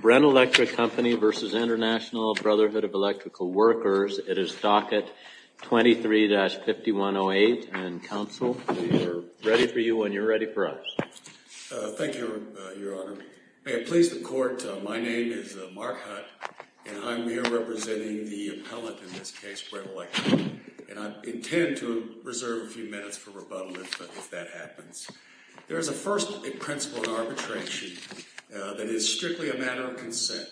Brent Electric Company v. International Brotherhood of Electrical Workers. It is docket 23-5108, and counsel, we are ready for you and you're ready for us. Thank you, Your Honor. May it please the Court, my name is Mark Hutt, and I'm here representing the appellant in this case, Brent Electric, and I intend to reserve a few minutes for rebuttal if that happens. There is a first principle in arbitration that is strictly a matter of consent.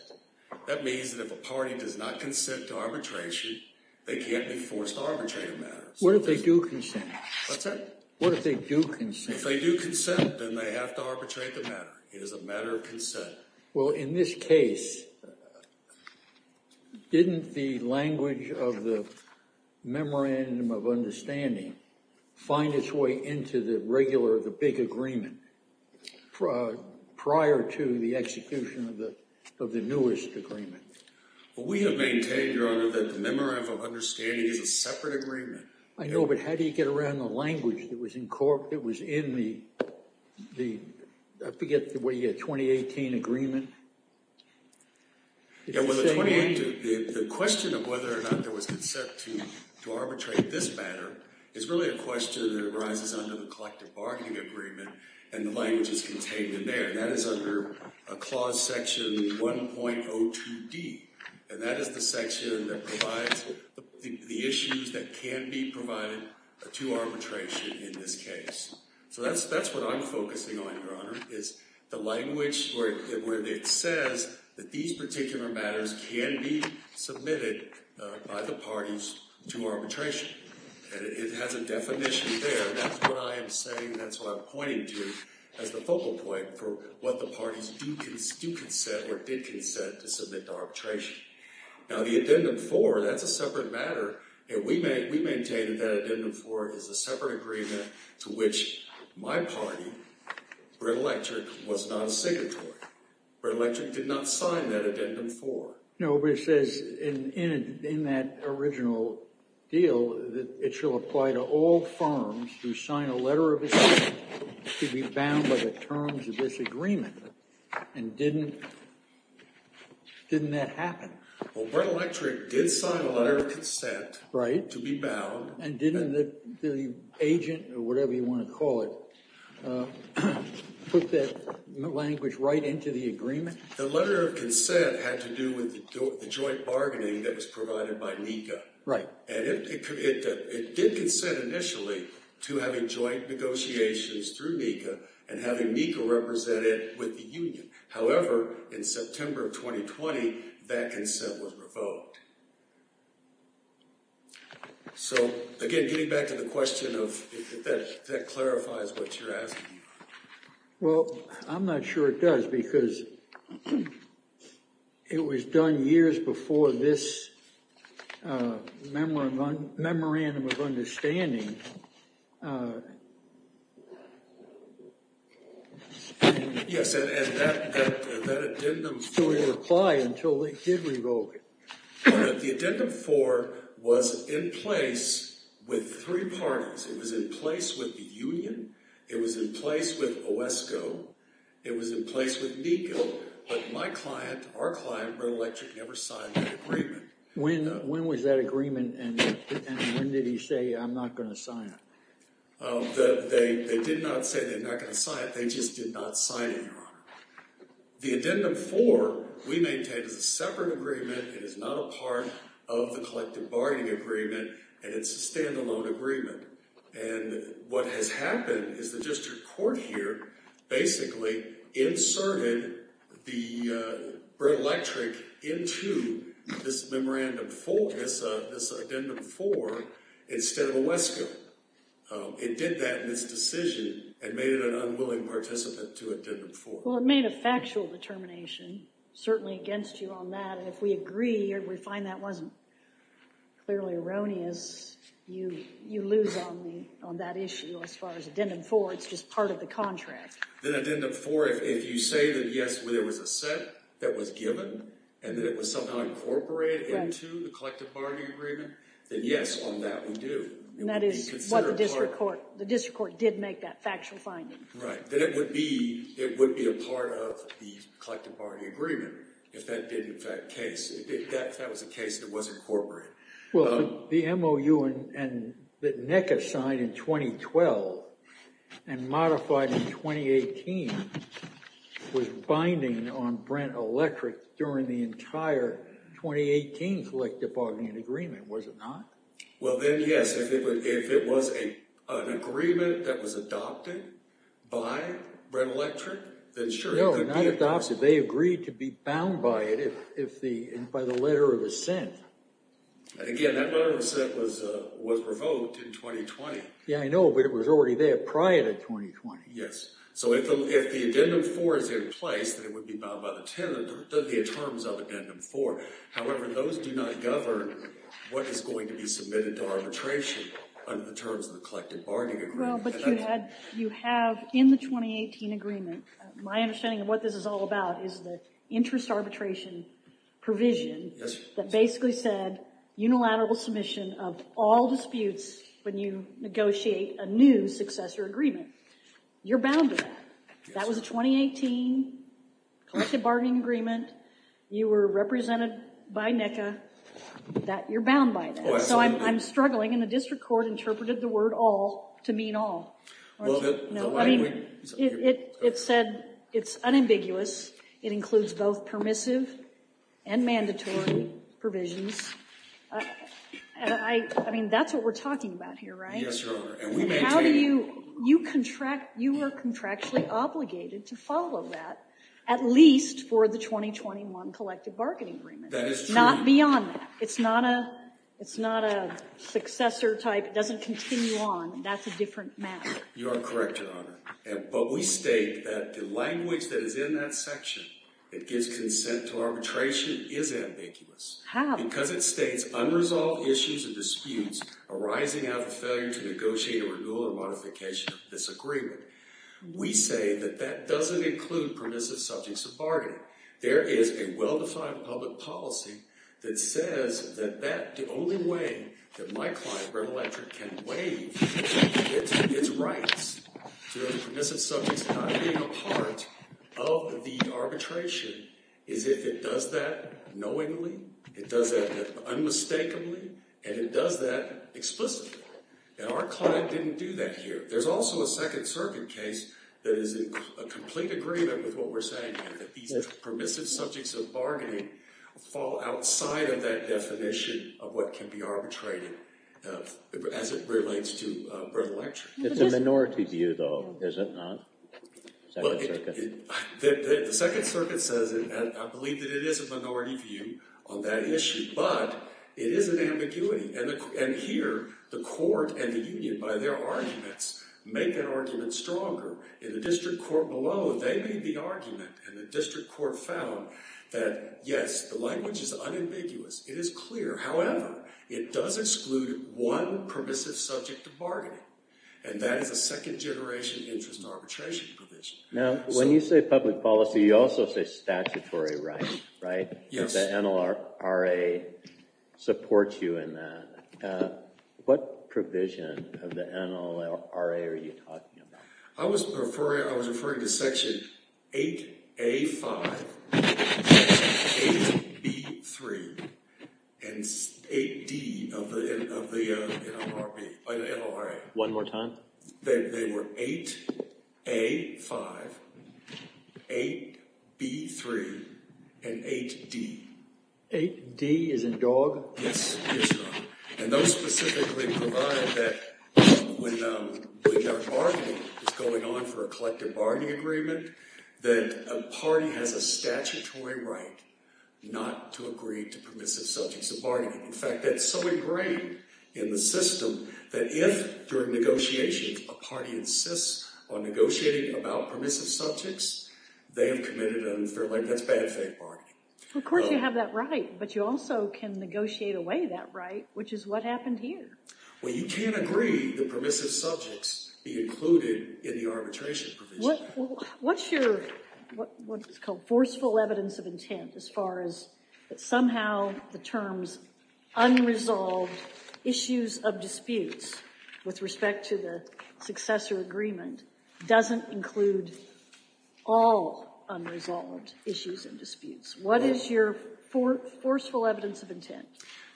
That means that if a party does not consent to arbitration, they can't be forced to arbitrate a matter. What if they do consent? What's that? What if they do consent? If they do consent, then they have to arbitrate the matter. It is a matter of consent. Well, in this case, didn't the language of the memorandum of understanding find its way into the regular, the big agreement, prior to the execution of the newest agreement? Well, we have maintained, Your Honor, that the memorandum of understanding is a separate agreement. I know, but how do you get around the language that was in court, that was in the, I forget, the 2018 agreement? Yeah, well, the question of whether or not there was consent to arbitrate this matter is really a question that arises under the collective bargaining agreement, and the language is contained in there. That is under clause section 1.02d, and that is the section that provides the issues that can be provided to arbitration in this case. So that's what I'm focusing on, Your Honor, is the language where it says that these particular matters can be submitted by the parties to arbitration, and it has a definition there. That's what I am saying, that's what I'm pointing to as the focal point for what the parties do consent or did consent to submit to arbitration. Now, the addendum 4, that's a separate matter, and we maintained that addendum 4 is a separate agreement to which my party, Brent Electric, was not a signatory. Brent Electric did not sign that addendum 4. No, but it says in that original deal that it shall apply to all firms who sign a letter of consent to be bound by the terms of this agreement, and didn't that happen? Well, Brent Electric did sign a letter of consent to be bound. And didn't the agent, or whatever you want to call it, put that language right into the agreement? The letter of consent had to do with the joint bargaining that was provided by NECA. Right. And it did consent initially to having joint negotiations through NECA and having NECA represent it with the union. So, again, getting back to the question of if that clarifies what you're asking. Well, I'm not sure it does because it was done years before this memorandum of understanding. Yes, and that addendum 4... It didn't apply until they did revoke it. The addendum 4 was in place with three parties. It was in place with the union, it was in place with OESCO, it was in place with NECA, but my client, our client, Brent Electric, never signed that agreement. When was that agreement, and when did he say, I'm not going to sign it? They did not say they're not going to sign it. They just did not sign it, Your Honor. The addendum 4, we maintain, is a separate agreement. It is not a part of the collective bargaining agreement, and it's a standalone agreement. And what has happened is the district court here basically inserted the Brent Electric into this memorandum 4, this addendum 4, instead of OESCO. It did that in its decision and made it an unwilling participant to addendum 4. Well, it made a factual determination, certainly against you on that, but if we agree or we find that wasn't clearly erroneous, you lose on that issue. As far as addendum 4, it's just part of the contract. Then addendum 4, if you say that, yes, there was a set that was given and that it was somehow incorporated into the collective bargaining agreement, then yes, on that we do. And that is what the district court did make that factual finding. Right, then it would be a part of the collective bargaining agreement if that was a case that was incorporated. Well, the MOU that NECA signed in 2012 and modified in 2018 was binding on Brent Electric during the entire 2018 collective bargaining agreement, was it not? Well, then yes. If it was an agreement that was adopted by Brent Electric, then sure. No, not adopted. They agreed to be bound by it by the letter of assent. Again, that letter of assent was revoked in 2020. Yeah, I know, but it was already there prior to 2020. Yes. So if the addendum 4 is in place, then it would be bound by the 10 of the terms of addendum 4. However, those do not govern what is going to be submitted to arbitration under the terms of the collective bargaining agreement. Well, but you have in the 2018 agreement, my understanding of what this is all about is the interest arbitration provision that basically said unilateral submission of all disputes when you negotiate a new successor agreement. You're bound to that. That was a 2018 collective bargaining agreement. You were represented by NECA. You're bound by that. So I'm struggling, and the district court interpreted the word all to mean all. It said it's unambiguous. It includes both permissive and mandatory provisions. I mean, that's what we're talking about here, right? Yes, Your Honor. And how do you contract? You were contractually obligated to follow that, at least for the 2021 collective bargaining agreement. That is true. Not beyond that. It's not a successor type. It doesn't continue on. That's a different matter. You are correct, Your Honor. But we state that the language that is in that section that gives consent to arbitration is ambiguous. How? Because it states, unresolved issues and disputes arising out of failure to negotiate a renewal or modification of this agreement. We say that that doesn't include permissive subjects of bargaining. There is a well-defined public policy that says that the only way that my client, Brent Electric, can waive its rights to permissive subjects not being a part of the arbitration is if it does that knowingly, it does that unmistakably, and it does that explicitly. And our client didn't do that here. There's also a Second Circuit case that is in complete agreement with what we're saying here, that these permissive subjects of bargaining fall outside of that definition of what can be arbitrated as it relates to Brent Electric. It's a minority view, though, is it not? The Second Circuit says it, and I believe that it is a minority view on that issue, but it is an ambiguity. And here, the court and the union, by their arguments, make that argument stronger. In the district court below, they made the argument, and the district court found that, yes, the language is unambiguous. It is clear. However, it does exclude one permissive subject of bargaining, and that is a second-generation interest arbitration provision. Now, when you say public policy, you also say statutory rights, right? Yes. The NLRA supports you in that. What provision of the NLRA are you talking about? I was referring to Section 8A-5, Section 8B-3, and 8D of the NLRA. One more time? They were 8A-5, 8B-3, and 8D. 8D as in dog? Yes. And those specifically provide that when bargaining is going on for a collective bargaining agreement, that a party has a statutory right not to agree to permissive subjects of bargaining. In fact, that's so ingrained in the system that if, during negotiations, a party insists on negotiating about permissive subjects, they have committed an unfair, that's bad faith bargaining. Of course you have that right, but you also can negotiate away that right, which is what happened here. Well, you can't agree that permissive subjects be included in the arbitration provision. What's your what's called forceful evidence of intent as far as that somehow the terms unresolved issues of disputes with respect to the successor agreement doesn't include all unresolved issues and disputes? What is your forceful evidence of intent?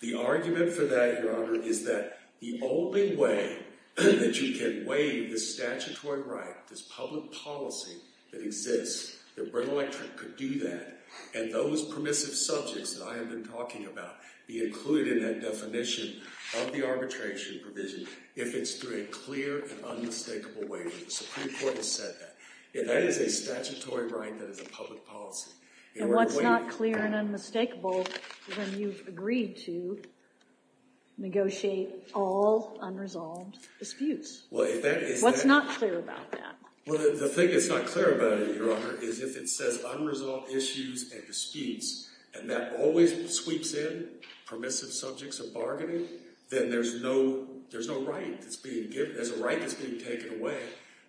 The argument for that, Your Honor, is that the only way that you can waive the statutory right, this public policy that exists, that Brent Electric could do that, and those permissive subjects that I have been talking about be included in that definition of the arbitration provision if it's through a clear and unmistakable waiver. The Supreme Court has said that. If that is a statutory right, that is a public policy. And what's not clear and unmistakable when you've agreed to negotiate all unresolved disputes? What's not clear about that? Well, the thing that's not clear about it, Your Honor, is if it says unresolved issues and disputes, and that always sweeps in permissive subjects of bargaining, then there's no right that's being given. There's a right that's being taken away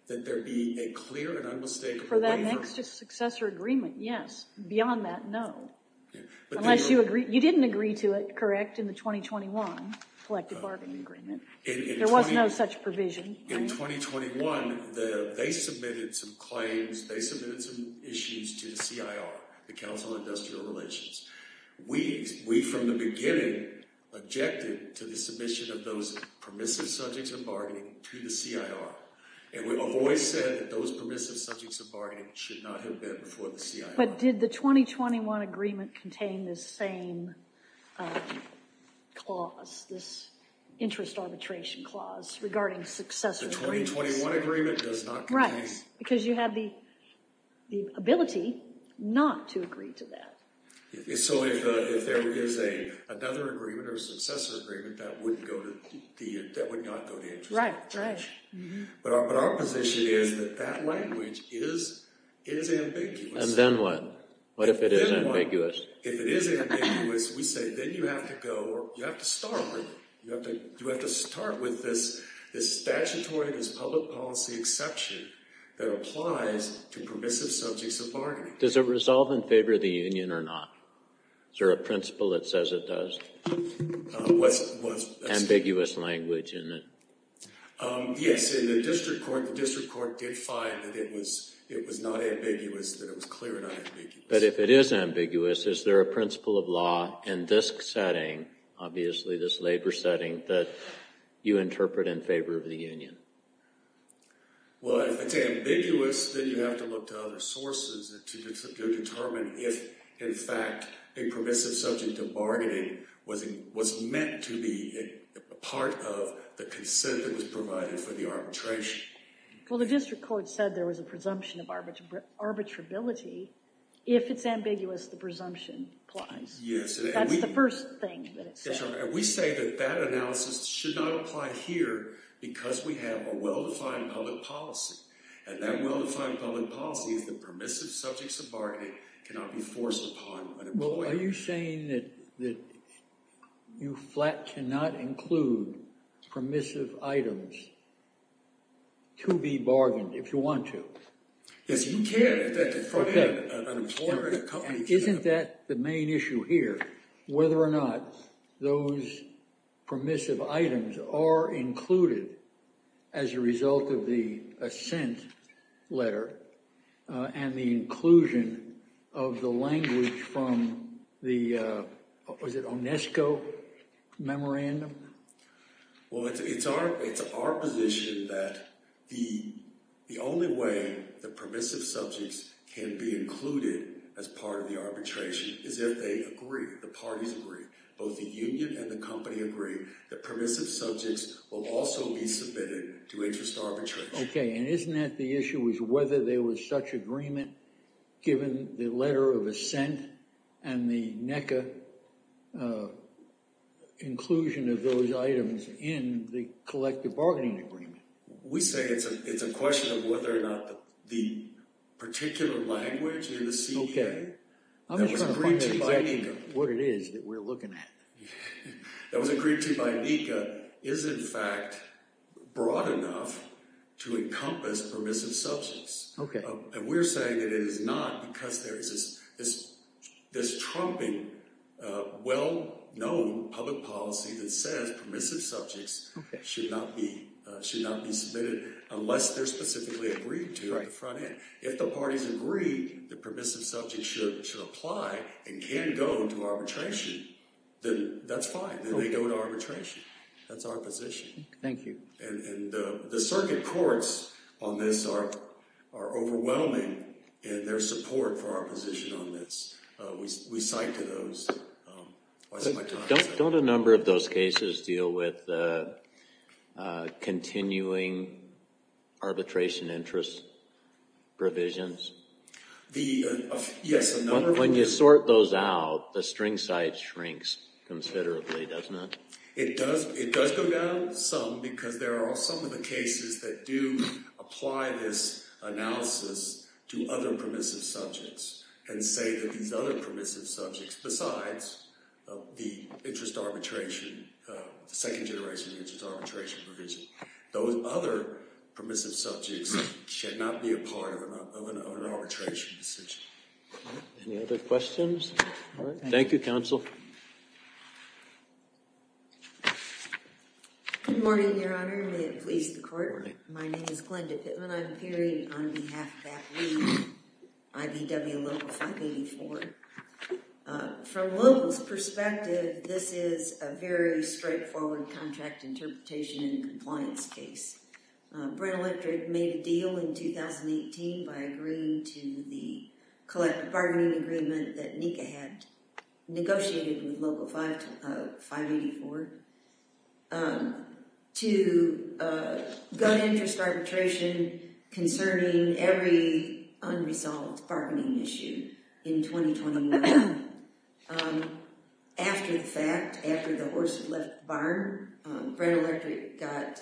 that there be a clear and unmistakable waiver. For that next successor agreement, yes. Beyond that, no. Unless you agree. You didn't agree to it, correct, in the 2021 collective bargaining agreement. There was no such provision. In 2021, they submitted some claims. They submitted some issues to the CIR, the Council on Industrial Relations. We, from the beginning, objected to the submission of those permissive subjects of bargaining to the CIR. And we've always said that those permissive subjects of bargaining should not have been before the CIR. But did the 2021 agreement contain this same clause, this interest arbitration clause, regarding successor agreements? The 2021 agreement does not contain... Right, because you have the ability not to agree to that. So if there is another agreement or a successor agreement, that would not go to interest arbitration. Right, right. But our position is that that language is ambiguous. And then what? What if it is ambiguous? If it is ambiguous, we say, then you have to go or you have to start with it. You have to start with this statutory, this public policy exception that applies to permissive subjects of bargaining. Does it resolve in favor of the union or not? Is there a principle that says it does? What's... Ambiguous language in it. Yes, in the district court, the district court did find that it was not ambiguous, that it was clear not ambiguous. But if it is ambiguous, is there a principle of law in this setting, obviously this labor setting, that you interpret in favor of the union? Well, if it's ambiguous, then you have to look to other sources to determine if, in fact, a permissive subject of bargaining was meant to be part of the consent that was provided for the arbitration. Well, the district court said there was a presumption of arbitrability. If it's ambiguous, the presumption applies. Yes. That's the first thing that it said. And we say that that analysis should not apply here because we have a well-defined public policy. And that well-defined public policy is that permissive subjects of bargaining cannot be forced upon an employer. Well, are you saying that you flat cannot include permissive items to be bargained if you want to? Yes, you can if that's in front of an employer and a company. And isn't that the main issue here, whether or not those permissive items are included as a result of the assent letter and the inclusion of the language from the – was it Onesco memorandum? Well, it's our position that the only way the permissive subjects can be included as part of the arbitration is if they agree, the parties agree. Both the union and the company agree that permissive subjects will also be submitted to interest arbitration. Okay. And isn't that the issue is whether there was such agreement given the assent and the NECA inclusion of those items in the collective bargaining agreement? We say it's a question of whether or not the particular language in the CEA – Okay. I'm just going to point out what it is that we're looking at. That was agreed to by NECA is, in fact, broad enough to encompass permissive subjects. Okay. And we're saying that it is not because there is this trumping well-known public policy that says permissive subjects should not be submitted unless they're specifically agreed to at the front end. If the parties agree that permissive subjects should apply and can go to arbitration, then that's fine. Then they go to arbitration. That's our position. Thank you. The circuit courts on this are overwhelming in their support for our position on this. We cite to those. Don't a number of those cases deal with continuing arbitration interest provisions? Yes. When you sort those out, the string side shrinks considerably, doesn't it? It does go down some because there are some of the cases that do apply this analysis to other permissive subjects and say that these other permissive subjects, besides the interest arbitration, the second generation of interest arbitration provision, those other permissive subjects should not be a part of an arbitration decision. All right. Thank you, counsel. Good morning, Your Honor. May it please the court. Good morning. My name is Glenda Pittman. I'm appearing on behalf of ABBV, IBW Local 584. From local's perspective, this is a very straightforward contract interpretation and compliance case. Brent Electric made a deal in 2018 by agreeing to the collective bargaining agreement that NECA had negotiated with Local 584 to go to interest arbitration concerning every unresolved bargaining issue in 2021. After the fact, after the horse had left the barn, Brent Electric got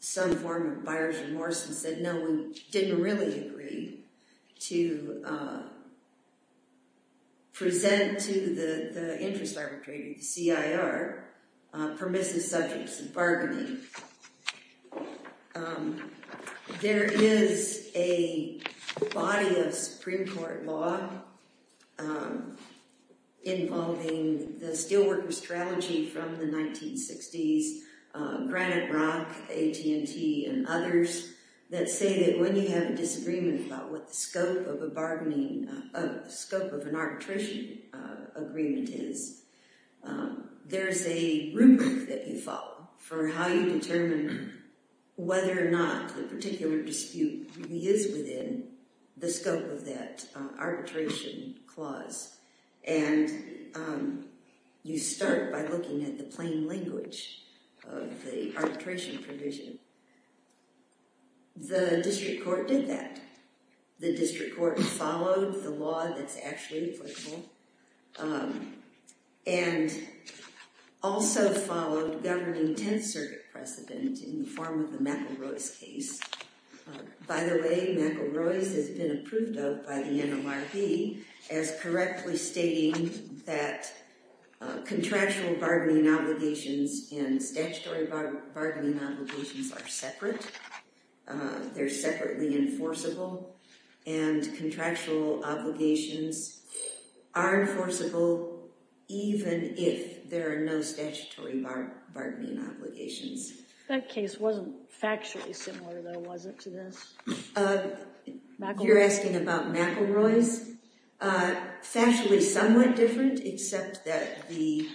some form of buyer's remorse and said, no, we didn't really agree to present to the interest arbitrator, the CIR, permissive subjects and bargaining. There is a body of Supreme Court law involving the Steelworkers' Trilogy from the 1960s, Granite Rock, AT&T and others that say that when you have a disagreement about what the scope of an arbitration agreement is, there is a rubric that you follow for how you determine whether or not the particular dispute really is within the scope of that arbitration clause. And you start by looking at the plain language of the arbitration provision. The district court did that. The district court followed the law that's actually applicable and also followed governing 10th Circuit precedent in the form of the McElroy's case. By the way, McElroy's has been approved of by the NLRB as correctly stating that contractual bargaining obligations and statutory bargaining obligations are separate. They're separately enforceable and contractual obligations are enforceable even if there are no statutory bargaining obligations. That case wasn't factually similar, though, was it, to this? You're asking about McElroy's? Factually somewhat different except that the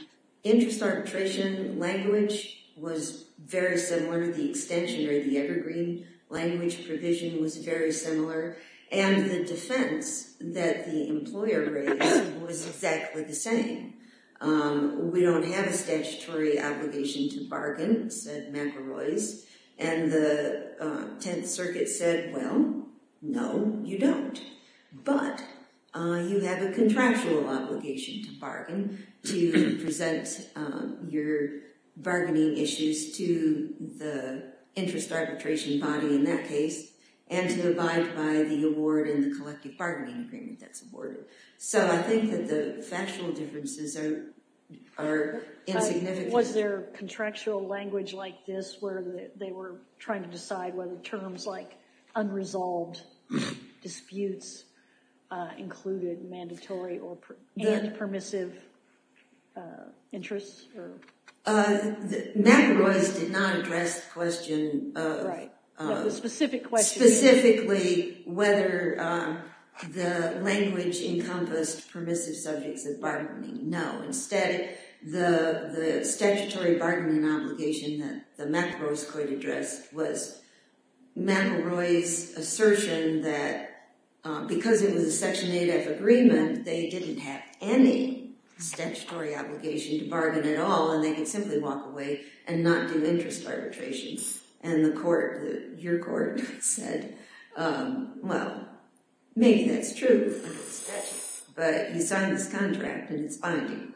interest arbitration language was very similar, the extension or the evergreen language provision was very similar, and the defense that the employer raised was exactly the same. We don't have a statutory obligation to bargain, said McElroy's, and the 10th Circuit said, well, no, you don't, but you have a contractual obligation to bargain to present your bargaining issues to the interest arbitration body in that case and to abide by the award and the collective bargaining agreement that's awarded. So I think that the factual differences are insignificant. Was there contractual language like this where they were trying to decide whether terms like unresolved disputes included mandatory and permissive interests? McElroy's did not address the question of – Right, the specific question. Specifically whether the language encompassed permissive subjects of bargaining, no. Instead, the statutory bargaining obligation that the McElroys could address was McElroy's assertion that because it was a Section 8F agreement, they didn't have any statutory obligation to bargain at all and they could simply walk away and not do interest arbitration. And the court, your court, said, well, maybe that's true, but you signed this contract and it's binding.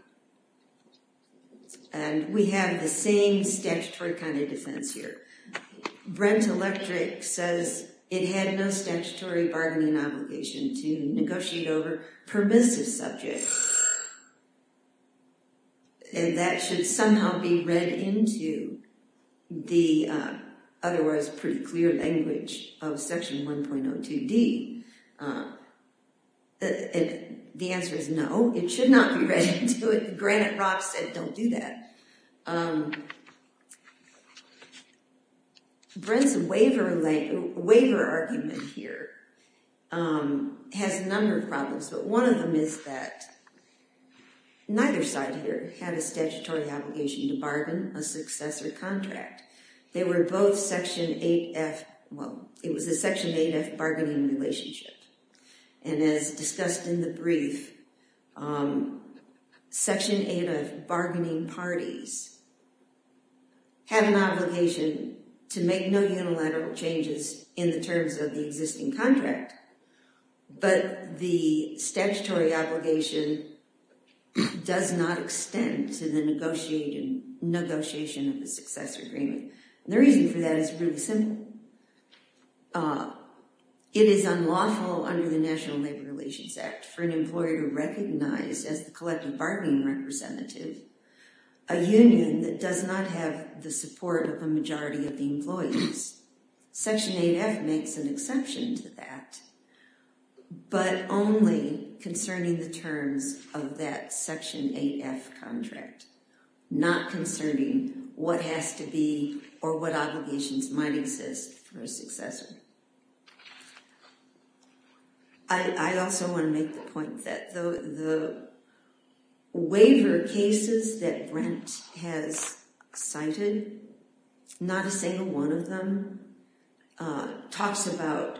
And we have the same statutory kind of defense here. Brent Electric says it had no statutory bargaining obligation to negotiate over permissive subjects. And that should somehow be read into the otherwise pretty clear language of Section 1.02D. The answer is no, it should not be read into it. Granite Rock said don't do that. Brent's waiver argument here has a number of problems, but one of them is that neither side here had a statutory obligation to bargain a successor contract. They were both Section 8F, well, it was a Section 8F bargaining relationship. And as discussed in the brief, Section 8F bargaining parties had an obligation to make no unilateral changes in the terms of the existing contract, but the obligation does not extend to the negotiation of the successor agreement. And the reason for that is really simple. It is unlawful under the National Labor Relations Act for an employer to recognize as the collective bargaining representative a union that does not Section 8F makes an exception to that, but only concerning the terms of that Section 8F contract, not concerning what has to be or what obligations might exist for a successor. I also want to make the point that the waiver cases that Brent has cited, not a single one of them, talks about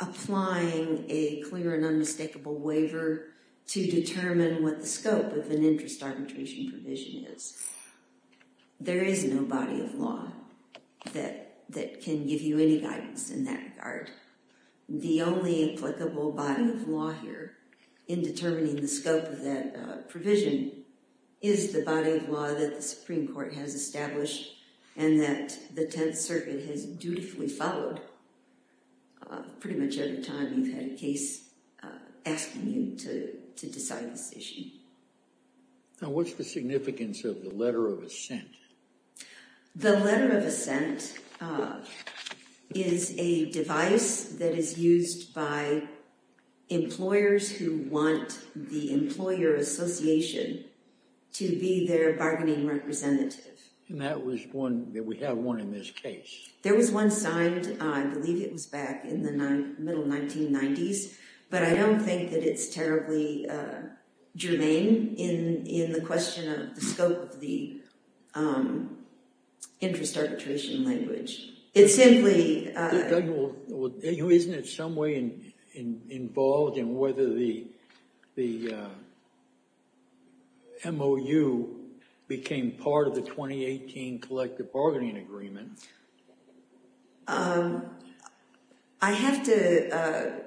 applying a clear and unmistakable waiver to determine what the scope of an interest arbitration provision is. There is no body of law that can give you any guidance in that regard. The only applicable body of law here in determining the scope of that provision is the body of law that the Supreme Court has established and that the Tenth Circuit has dutifully followed pretty much every time you've had a case asking you to decide this issue. Now, what's the significance of the letter of assent? The letter of assent is a device that is used by employers who want the employer association to be their bargaining representative. And that was one, that we have one in this case. There was one signed, I believe it was back in the middle 1990s, but I don't think that it's terribly germane in the question of the scope of the interest arbitration language. It simply… Isn't it some way involved in whether the MOU became part of the 2018 collective bargaining agreement? I have to,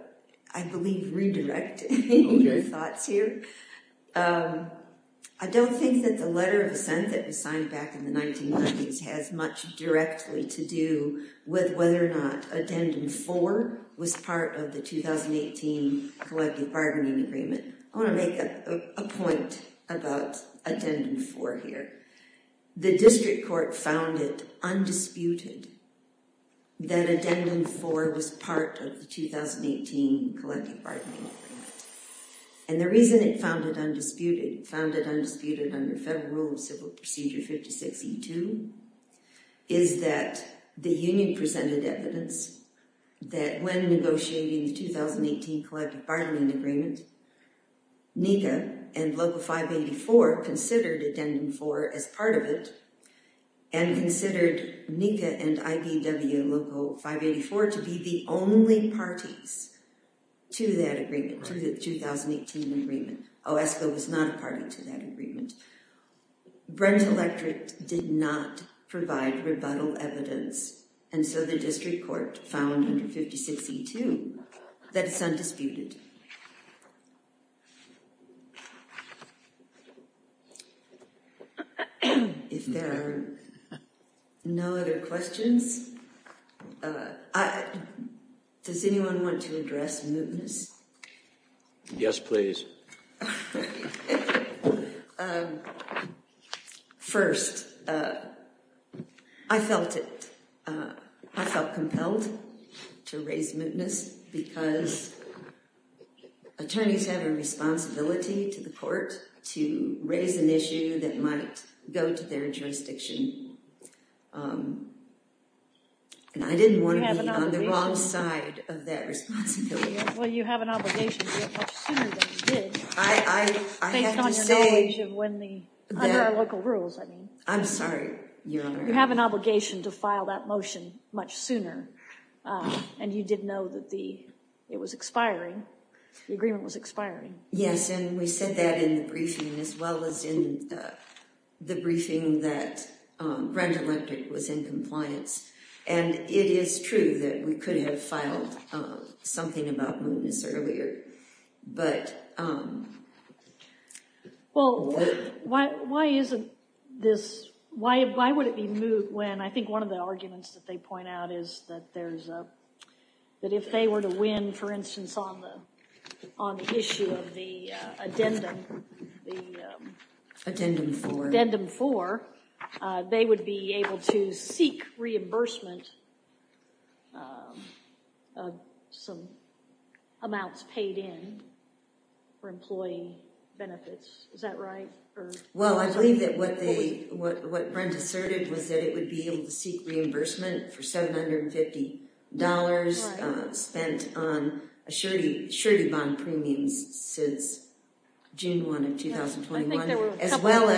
I believe, redirect your thoughts here. I don't think that the letter of assent that was signed back in the 1990s has much directly to do with whether or not Addendum 4 was part of the 2018 collective bargaining agreement. I want to make a point about Addendum 4 here. The district court found it undisputed that Addendum 4 was part of the 2018 collective bargaining agreement. And the reason it found it undisputed, it found it undisputed under Federal Civil Procedure 56E2, is that the union presented evidence that when negotiating the 2018 collective bargaining agreement, NECA and Local 584 considered Addendum 4 as part of it, and considered NECA and IDW Local 584 to be the only parties to that agreement, to the 2018 agreement. OSCO was not a party to that agreement. Brent Electric did not provide rebuttal evidence, and so the district court found under 56E2 that it's undisputed. If there are no other questions, does anyone want to address mootness? Yes, please. First, I felt compelled to raise mootness because attorneys have a responsibility to the court to raise an issue that might go to their jurisdiction, and I didn't want to be on the wrong side of that responsibility. Well, you have an obligation to do it much sooner than you did, based on your knowledge of when the, under our local rules, I mean. I'm sorry, Your Honor. You have an obligation to file that motion much sooner, and you did know that the, it was expiring, the agreement was expiring. Yes, and we said that in the briefing, as well as in the briefing that Brent Electric was in compliance. And it is true that we could have filed something about mootness earlier, but... Well, why is this, why would it be moot when, I think one of the arguments that they point out is that there's a, that if they were to win, for instance, on the issue of the addendum, the... Addendum 4. Addendum 4, they would be able to seek reimbursement of some amounts paid in for employee benefits. Is that right? Well, I believe that what they, what Brent asserted was that it would be able to seek reimbursement for $750 spent on a surety bond premium since June 1 of 2021. I think there were a couple of reasons. As well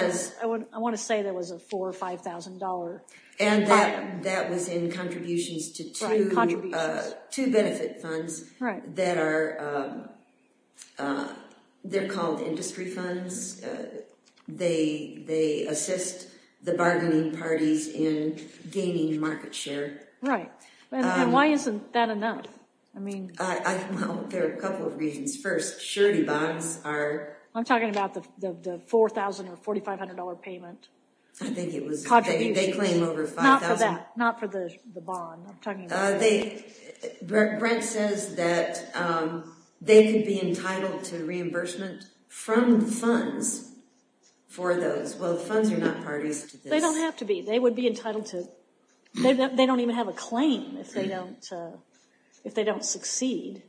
as... I want to say there was a $4,000 or $5,000... And that was in contributions to two benefit funds that are, they're called industry funds. They assist the bargaining parties in gaining market share. Right. And why isn't that enough? I mean... Well, there are a couple of reasons. First, surety bonds are... I'm talking about the $4,000 or $4,500 payment. I think it was... They claim over $5,000... Not for that. Not for the bond. I'm talking about... Brent says that they could be entitled to reimbursement from the funds for those. Well, the funds are not parties to this. They don't have to be. They would be entitled to... They don't even have a claim if they don't succeed.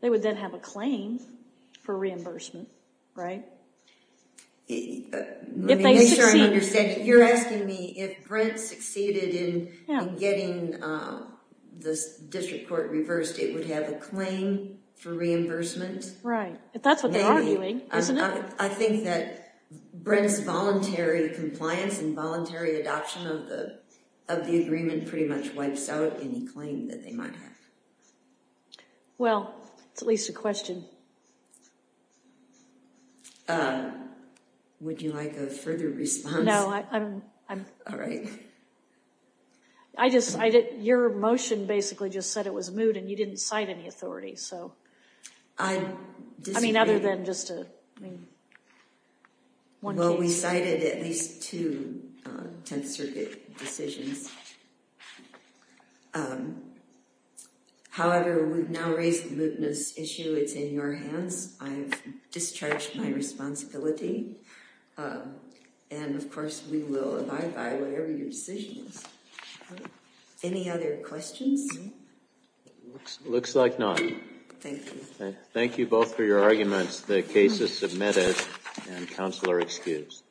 They would then have a claim for reimbursement. Right? If they succeed... Let me make sure I understand. You're asking me if Brent succeeded in getting the district court reversed, it would have a claim for reimbursement? Right. If that's what they're arguing, isn't it? I think that Brent's voluntary compliance and voluntary adoption of the agreement pretty much wipes out any claim that they might have. Well, it's at least a question. Would you like a further response? No, I'm... All right. Your motion basically just said it was moot, and you didn't cite any authority. I mean, other than just a... Well, we cited at least two Tenth Circuit decisions. However, we've now raised the mootness issue. It's in your hands. I've discharged my responsibility. And, of course, we will abide by whatever your decision is. Any other questions? Looks like none. Thank you. Thank you both for your arguments. The case is submitted, and counsel are excused.